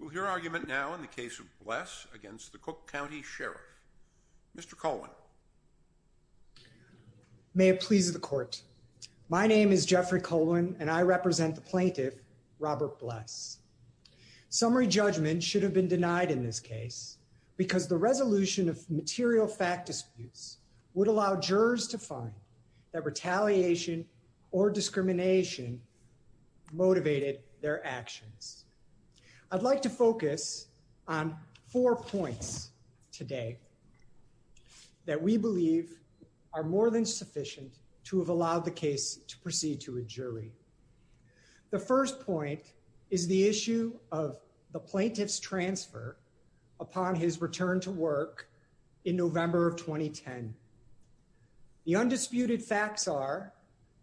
We'll hear argument now in the case of Bless against the Cook County Sheriff. Mr. Colwin. May it please the court. My name is Jeffrey Colwin and I represent the plaintiff, Robert Bless. Summary judgment should have been denied in this case because the resolution of material fact disputes would allow jurors to find that retaliation or discrimination motivated their actions. I'd like to focus on four points today that we believe are more than sufficient to have allowed the case to proceed to a jury. The first point is the issue of the plaintiff's transfer upon his return to work in November of 2010. The undisputed facts are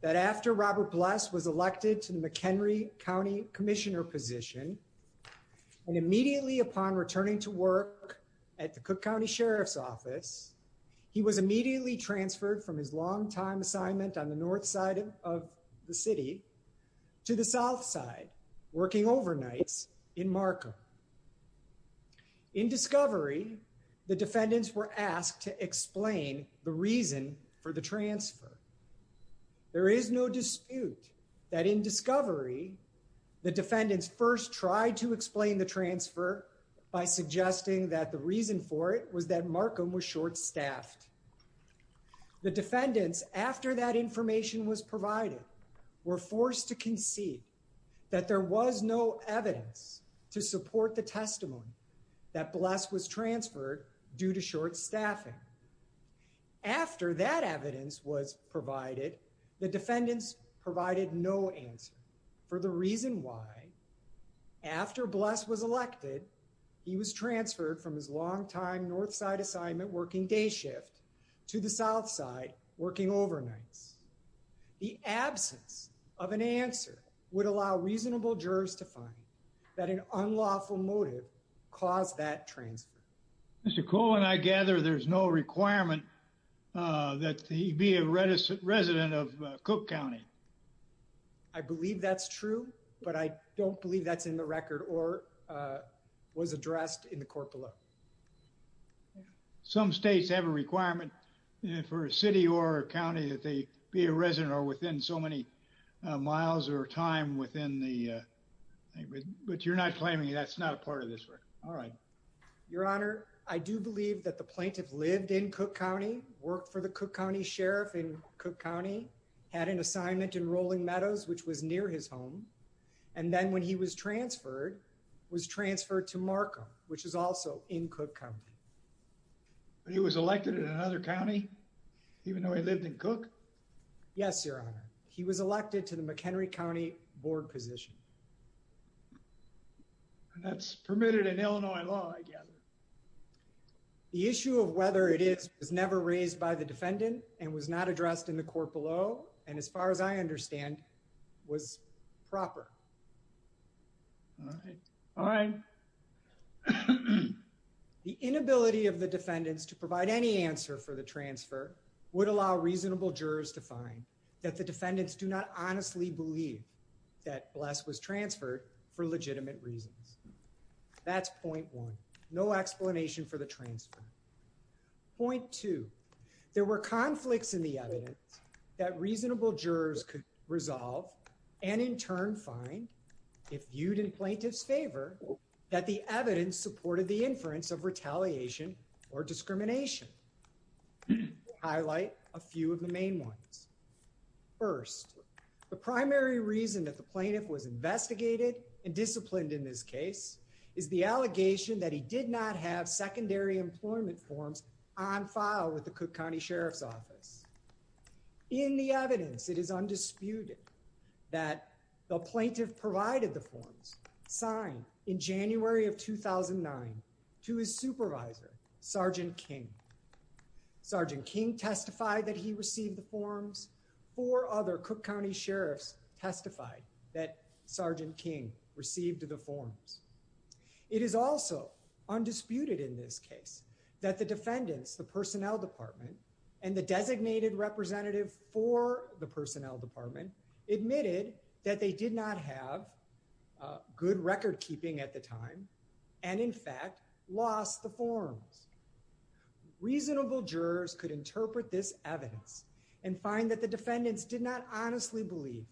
that after Robert Bless was elected to the McHenry County Commissioner position and immediately upon returning to work at the Cook County Sheriff's Office, he was immediately transferred from his long time assignment on the north side of the city to the south side, working overnights in Markham. In discovery, the defendants were asked to explain the reason for the transfer. There is no dispute that in discovery, the defendants first tried to explain the transfer by suggesting that the reason for it was that Markham was short-staffed. The defendants, after that information was provided, were forced to concede that there was no evidence to support the testimony that Bless was transferred due to short staffing. After that evidence was provided, the defendants provided no answer for the reason why, after Bless was elected, he was transferred from his long time north side assignment working day shift to the south side, working overnights. The absence of an answer would allow reasonable jurors to find that an unlawful motive caused that transfer. Mr. Cole, when I gather there's no requirement that he be a resident of Cook County. I believe that's true, but I don't believe that's in the record or was addressed in the court below. Some states have a requirement for a city or a county that they be a resident or within so many miles or time within the, but you're not claiming that's not a part of this record. All right. Your Honor, I do believe that the plaintiff lived in Cook County, worked for the Cook County, had an assignment in Rolling Meadows, which was near his home. And then when he was transferred, was transferred to Markham, which is also in Cook County. He was elected in another county, even though he lived in Cook? Yes, Your Honor. He was elected to the McHenry County board position. That's permitted in Illinois law, I gather. The issue of whether it is, was never raised by the defendant and was not addressed in the court below. And as far as I understand, was proper, all right. The inability of the defendants to provide any answer for the transfer would allow reasonable jurors to find that the defendants do not honestly believe that Bless was transferred for legitimate reasons. That's point one. No explanation for the transfer. Point two, there were conflicts in the evidence that reasonable jurors could resolve and in turn find, if viewed in plaintiff's favor, that the evidence supported the inference of retaliation or discrimination. Highlight a few of the main ones. First, the primary reason that the plaintiff was investigated and disciplined in this case is the allegation that he did not have secondary employment forms on file with the Cook County Sheriff's Office. In the evidence, it is undisputed that the plaintiff provided the forms signed in January of 2009 to his supervisor, Sergeant King. Sergeant King testified that he received the forms. Four other Cook County sheriffs testified that Sergeant King received the forms. It is also undisputed in this case that the defendants, the personnel department, and the designated representative for the personnel department admitted that they did not have good record keeping at the time and in fact lost the forms. Reasonable jurors could interpret this evidence and find that the defendants did not honestly believe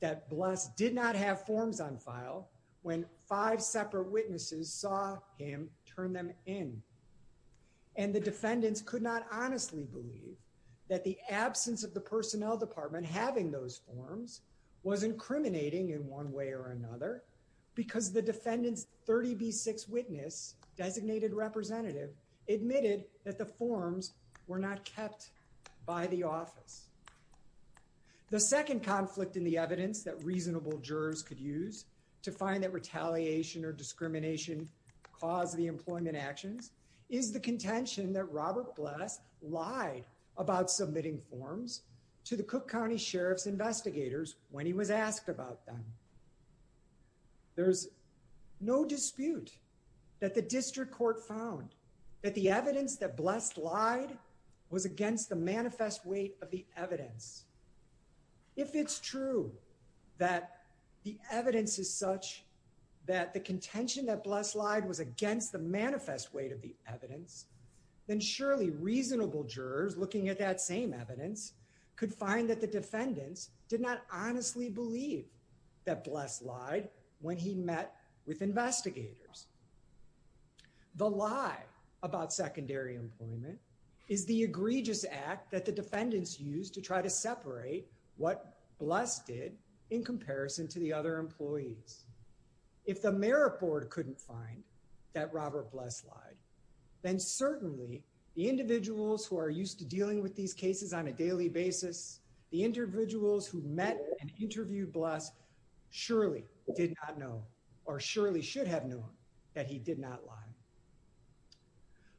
that Bless did not have forms on file when five separate witnesses saw him turn them in and the defendants could not honestly believe that the absence of the personnel department having those forms was incriminating in one way or another because the defendants 30B6 witness designated representative admitted that the forms were not kept by the office. The second conflict in the evidence that reasonable jurors could use to find that retaliation or discrimination caused the employment actions is the contention that Robert Bless lied about submitting forms to the Cook County Sheriff's investigators when he was asked about them. There's no dispute that the district court found that the evidence that Bless lied was against the manifest weight of the evidence. If it's true that the evidence is such that the contention that Bless lied was against the manifest weight of the evidence, then surely reasonable jurors looking at that same could find that the defendants did not honestly believe that Bless lied when he met with investigators. The lie about secondary employment is the egregious act that the defendants used to try to separate what Bless did in comparison to the other employees. If the merit board couldn't find that Robert Bless lied, then certainly the individuals who are used to dealing with these cases on a daily basis, the individuals who met and interviewed Bless surely did not know or surely should have known that he did not lie.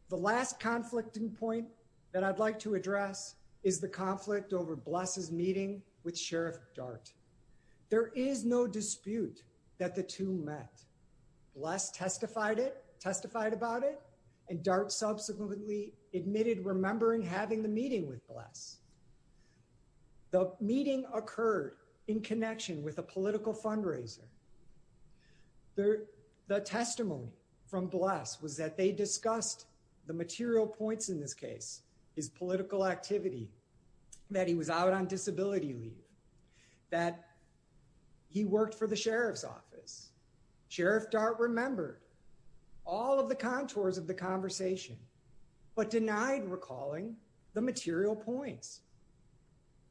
The last conflicting point that I'd like to address is the conflict over Bless's meeting with Sheriff Dart. There is no dispute that the two met. Bless testified it, testified about it, and Dart subsequently admitted remembering having the meeting with Bless. The meeting occurred in connection with a political fundraiser. The testimony from Bless was that they discussed the material points in this case, his political activity, that he was out on disability leave, that he worked for the sheriff's office. Sheriff Dart remembered all of the contours of the conversation but denied recalling the material points.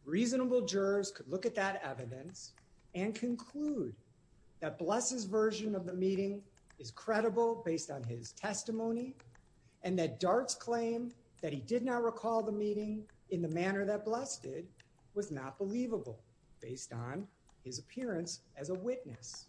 Reasonable jurors could look at that evidence and conclude that Bless's version of the meeting is credible based on his testimony and that Dart's claim that he did not recall the meeting in the manner that Bless did was not believable based on his appearance as a witness.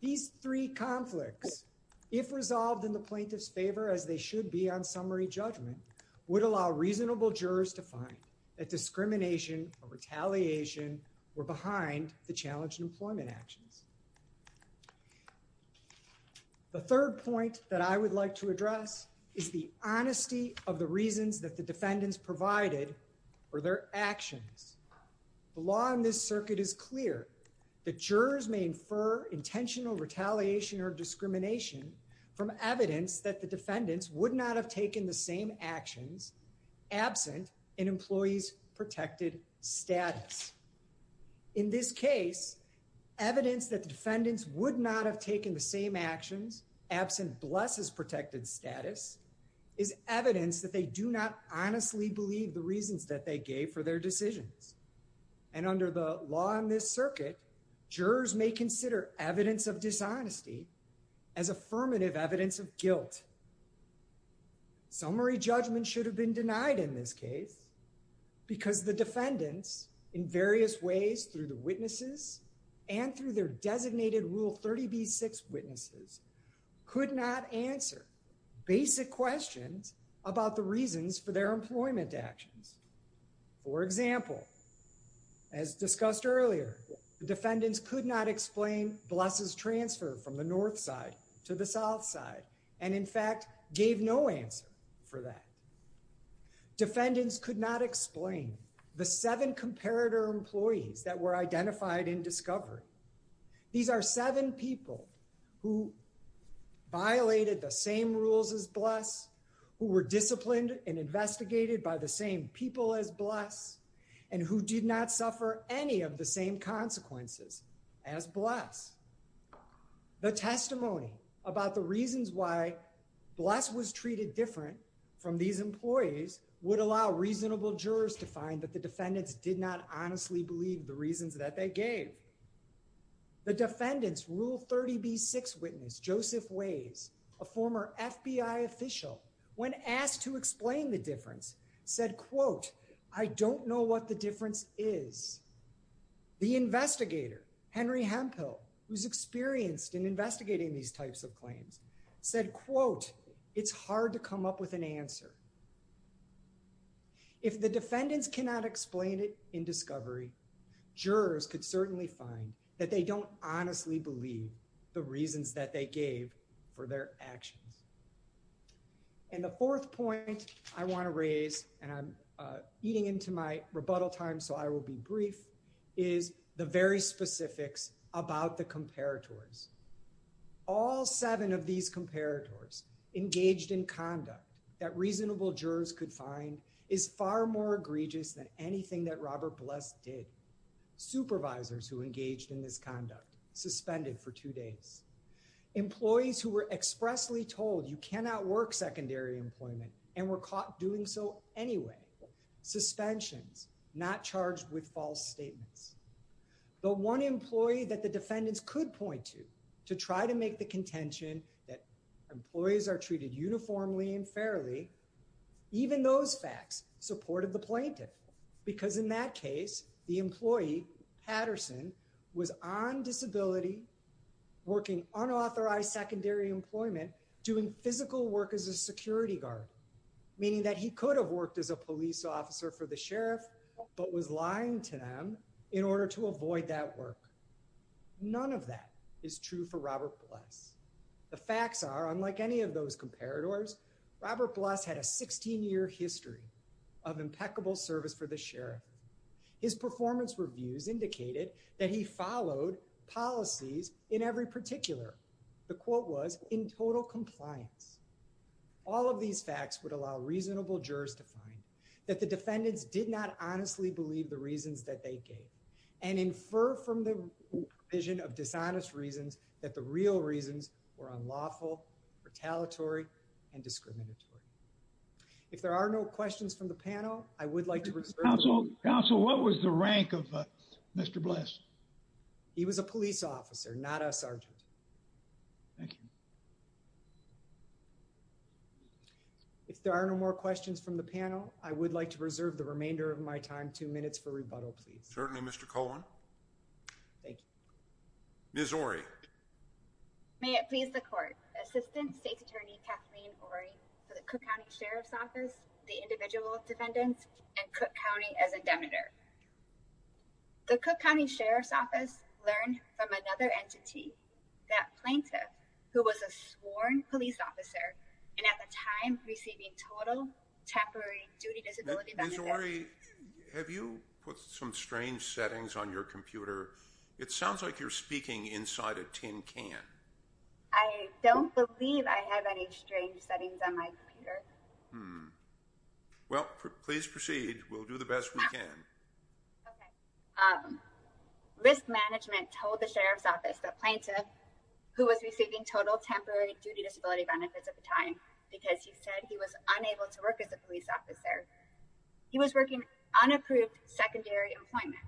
These three conflicts, if resolved in the plaintiff's favor as they should be on summary judgment, would allow reasonable jurors to find that discrimination or retaliation were behind the challenged employment actions. The third point that I would like to address is the honesty of the reasons that the defendants provided for their actions. The law in this circuit is clear that jurors may infer intentional retaliation or discrimination from evidence that the defendants would not have taken the same actions absent an employee's protected status. In this case, evidence that the defendants would not have taken the same actions absent Bless's protected status is evidence that they do not honestly believe the reasons that they gave for their decisions. And under the law in this circuit, jurors may consider evidence of dishonesty as affirmative evidence of guilt. Summary judgment should have been denied in this case because the defendants, in various ways through the witnesses and through their designated Rule 30b-6 witnesses, could not answer basic questions about the reasons for their employment actions. For example, as discussed earlier, the defendants could not explain Bless's transfer from the north side to the south side and, in fact, gave no answer for that. Defendants could not explain the seven comparator employees that were identified in discovery. These are seven people who violated the same rules as Bless, who were disciplined and and who did not suffer any of the same consequences as Bless. The testimony about the reasons why Bless was treated different from these employees would allow reasonable jurors to find that the defendants did not honestly believe the reasons that they gave. The defendants' Rule 30b-6 witness, Joseph Ways, a former FBI official, when asked to I don't know what the difference is, the investigator, Henry Hemphill, who's experienced in investigating these types of claims, said, quote, it's hard to come up with an answer. If the defendants cannot explain it in discovery, jurors could certainly find that they don't honestly believe the reasons that they gave for their actions. And the fourth point I want to raise, and I'm eating into my rebuttal time, so I will be brief, is the very specifics about the comparators. All seven of these comparators engaged in conduct that reasonable jurors could find is far more egregious than anything that Robert Bless did. Supervisors who engaged in this conduct suspended for two days. Employees who were expressly told you cannot work secondary employment and were caught doing so anyway. Suspensions, not charged with false statements. The one employee that the defendants could point to, to try to make the contention that employees are treated uniformly and fairly, even those facts supported the plaintiff. Because in that case, the employee, Patterson, was on disability, working unauthorized secondary employment, doing physical work as a security guard, meaning that he could have worked as a police officer for the sheriff, but was lying to them in order to avoid that work. None of that is true for Robert Bless. The facts are, unlike any of those comparators, Robert Bless had a 16-year history of impeccable service for the sheriff. His performance reviews indicated that he followed policies in every particular. The quote was, in total compliance. All of these facts would allow reasonable jurors to find that the defendants did not honestly believe the reasons that they gave and infer from the provision of dishonest reasons that the real reasons were unlawful, retaliatory, and discriminatory. If there are no questions from the panel, I would like to reserve. Counsel, what was the rank of Mr. Bless? He was a police officer, not a sergeant. Thank you. If there are no more questions from the panel, I would like to reserve the remainder of my time, two minutes for rebuttal, please. Certainly, Mr. Cohen. Thank you. Ms. Orey. May it please the court. Assistant State's Attorney Kathleen Orey for the Cook County Sheriff's Office, the individual defendants, and Cook County as a debater. The Cook County Sheriff's Office learned from another entity, that plaintiff, who was a sworn police officer and at the time receiving total temporary duty disability benefits. Ms. Orey, have you put some strange settings on your computer? It sounds like you're speaking inside a tin can. I don't believe I have any strange settings on my computer. Well, please proceed. We'll do the best we can. Okay. Risk management told the Sheriff's Office that plaintiff, who was receiving total temporary duty disability benefits at the time, because he said he was unable to work as a police officer, he was working unapproved secondary employment.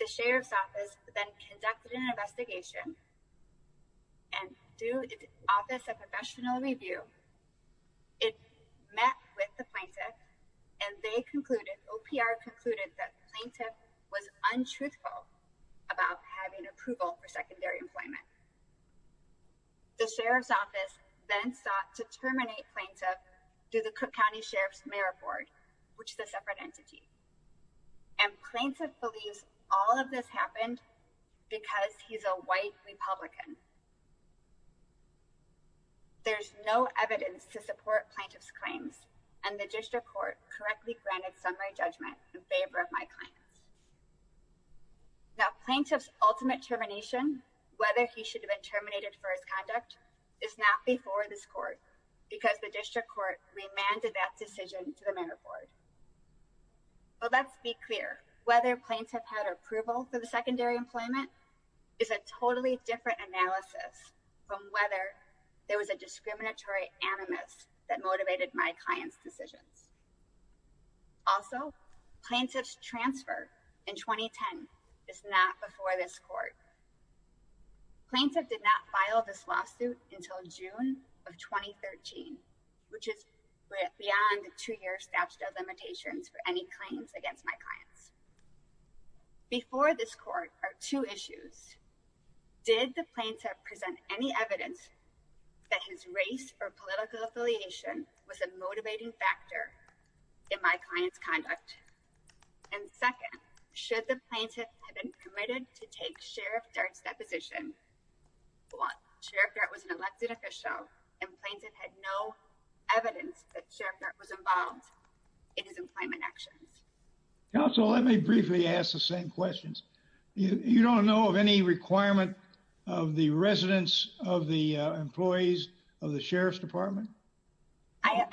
The Sheriff's Office then conducted an investigation and through the Office of Professional Review, it met with the plaintiff and they concluded, OPR concluded, that plaintiff was untruthful about having approval for secondary employment. The Sheriff's Office then sought to terminate plaintiff through the Cook County Sheriff's Mayor Board, which is a separate entity. And plaintiff believes all of this happened because he's a white Republican. There's no evidence to support plaintiff's claims and the District Court correctly granted summary judgment in favor of my claims. Now, plaintiff's ultimate termination, whether he should have been terminated for his conduct, is not before this court because the District Court remanded that decision to the Mayor Board. But let's be clear, whether plaintiff had approval for the secondary employment is a totally different analysis from whether there was a discriminatory animus that motivated my client's decisions. Also, plaintiff's transfer in 2010 is not before this court. Plaintiff did not file this lawsuit until June of 2013, which is beyond the two-year statute of limitations for any claims against my clients. Before this court are two issues. Did the plaintiff present any evidence that his race or political affiliation was a motivating factor in my client's conduct? And second, should the plaintiff have been permitted to take Sheriff Dart's deposition? Sheriff Dart was an elected official and plaintiff had no evidence that Sheriff Dart was involved in his employment actions. Counsel, let me briefly ask the same questions. You don't know of any requirement of the residence of the employees of the Sheriff's Department? I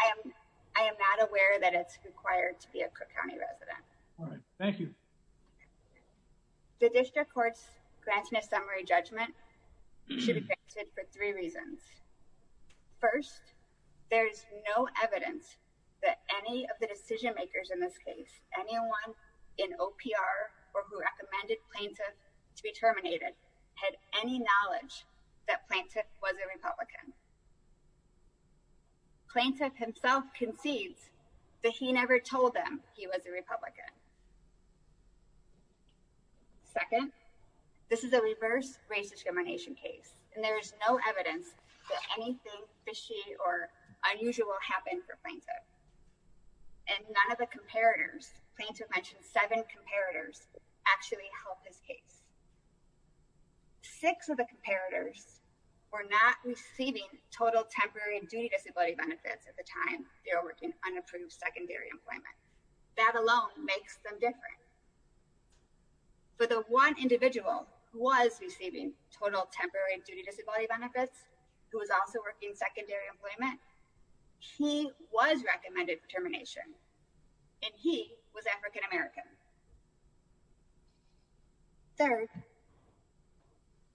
am not aware that it's required to be a Cook County resident. All right, thank you. The district court's granting a summary judgment should be granted for three reasons. First, there's no evidence that any of the decision makers in this case, anyone in OPR or who recommended plaintiff to be terminated, had any knowledge that plaintiff was a Republican. Plaintiff himself concedes that he never told them he was a Republican. Second, this is a reverse race discrimination case and there is no evidence that anything fishy or unusual happened for plaintiff. And none of the comparators, plaintiff mentioned seven comparators, actually helped his case. Six of the comparators were not receiving total temporary and duty disability benefits at the time they were working unapproved secondary employment. That alone makes them different. But the one individual who was receiving total temporary and duty disability benefits, who was also working secondary employment, he was recommended termination and he was African-American. Third,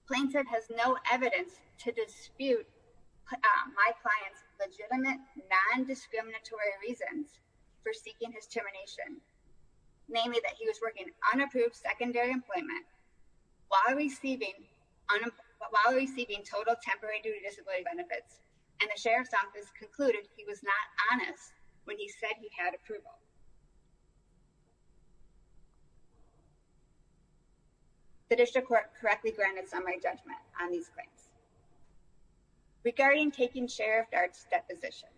plaintiff has no evidence to dispute my client's legitimate non-discriminatory reasons for seeking his termination, namely that he was working unapproved secondary employment while receiving total temporary and duty disability benefits. And the sheriff's office concluded he was not honest when he said he had approval. The district court correctly granted summary judgment on these claims. Regarding taking Sheriff Dart's deposition,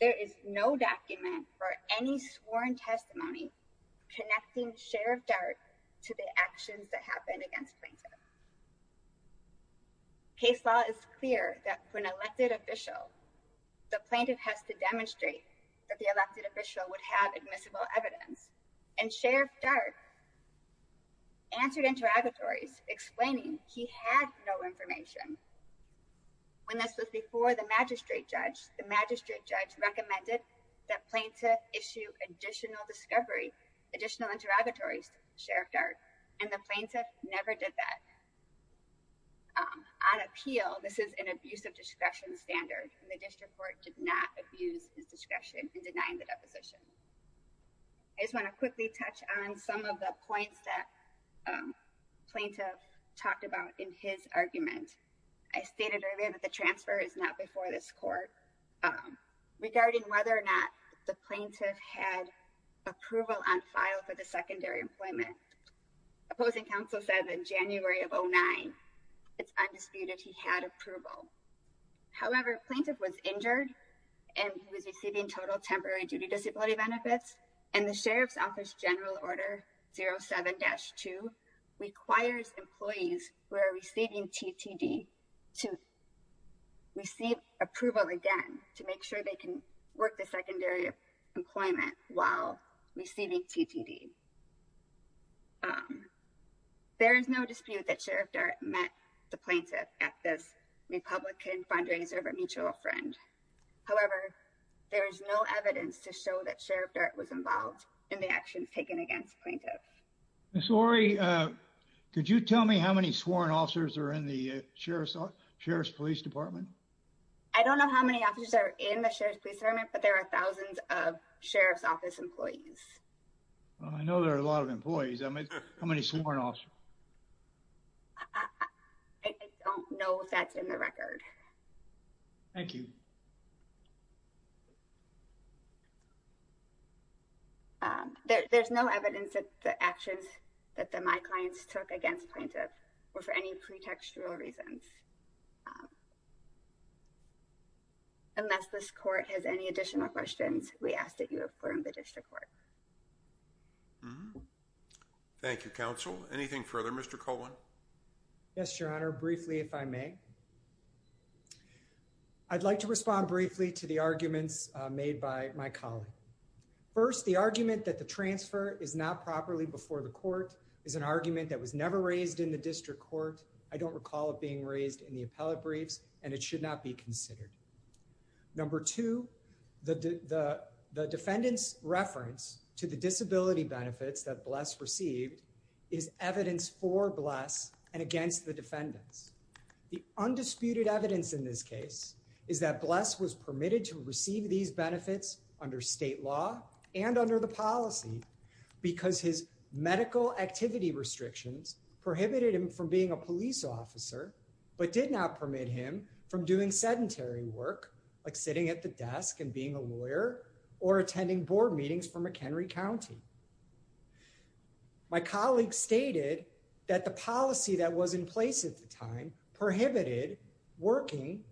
there is no document for any sworn testimony connecting Sheriff Dart to the actions that happened against plaintiff. Case law is clear that when elected official, the plaintiff has to demonstrate that the plaintiff would have admissible evidence and Sheriff Dart answered interrogatories explaining he had no information. When this was before the magistrate judge, the magistrate judge recommended that plaintiff issue additional discovery, additional interrogatories to Sheriff Dart and the plaintiff never did that. On appeal, this is an abuse of discretion standard and the district court did not abuse his discretion in denying the deposition. I just want to quickly touch on some of the points that plaintiff talked about in his argument. I stated earlier that the transfer is not before this court. Regarding whether or not the plaintiff had approval on file for the secondary employment, opposing counsel said in January of 09, it's undisputed he had approval. However, plaintiff was injured and he was receiving total temporary duty disability benefits and the Sheriff's Office General Order 07-2 requires employees who are receiving TTD to receive approval again to make sure they can work the secondary employment while receiving TTD. There is no dispute that Sheriff Dart met the plaintiff at this Republican fundraiser of a mutual friend. However, there is no evidence to show that Sheriff Dart was involved in the actions taken against plaintiff. Ms. Orey, could you tell me how many sworn officers are in the Sheriff's Police Department? I don't know how many officers are in the Sheriff's Police Department, but there are thousands of Sheriff's Office employees. Well, I know there are a lot of employees. I mean, how many sworn officers? I don't know if that's in the record. Thank you. There's no evidence that the actions that the my clients took against plaintiff were for any pretextual reasons. Unless this court has any additional questions, we ask that you affirm the district court. Mm-hmm. Thank you, counsel. Anything further? Mr. Coleman? Yes, your honor. Briefly, if I may. I'd like to respond briefly to the arguments made by my colleague. First, the argument that the transfer is not properly before the court is an argument that was never raised in the district court. I don't recall it being raised in the appellate briefs, and it should not be considered. Number two, the defendant's reference to the disability benefits that Bless received is evidence for Bless and against the defendants. The undisputed evidence in this case is that Bless was permitted to receive these benefits under state law and under the policy because his medical activity restrictions prohibited him from being a police officer, but did not permit him from doing sedentary work, like sitting at the desk and being a lawyer or attending board meetings for McHenry County. My colleague stated that the policy that was in place at the time prohibited working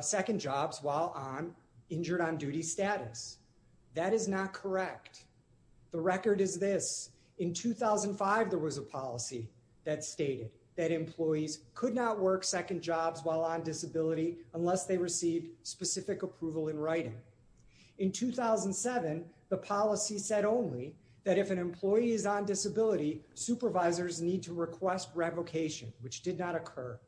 second jobs while injured on duty status. That is not correct. The record is this. In 2005, there was a policy that stated that employees could not work second jobs while on disability unless they received specific approval in writing. In 2007, the policy said only that if an employee is on disability, supervisors need to request revocation, which did not occur.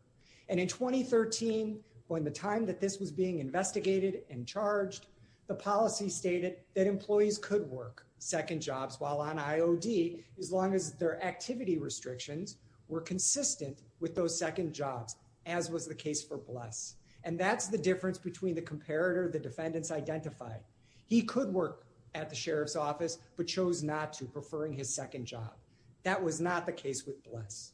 And in 2013, when the time that this was being investigated and charged, the policy stated that employees could work second jobs while on IOD as long as their activity restrictions were consistent with those second jobs, as was the case for Bless. And that's the difference between the comparator the defendants identified. He could work at the sheriff's office, but chose not to, preferring his second job. That was not the case with Bless.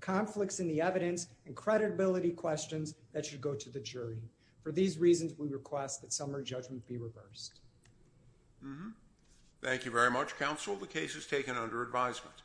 Conflicts in the evidence and credibility questions that should go to the jury. For these reasons, we request that summary judgment be reversed. Thank you very much, counsel. The case is taken under advisement.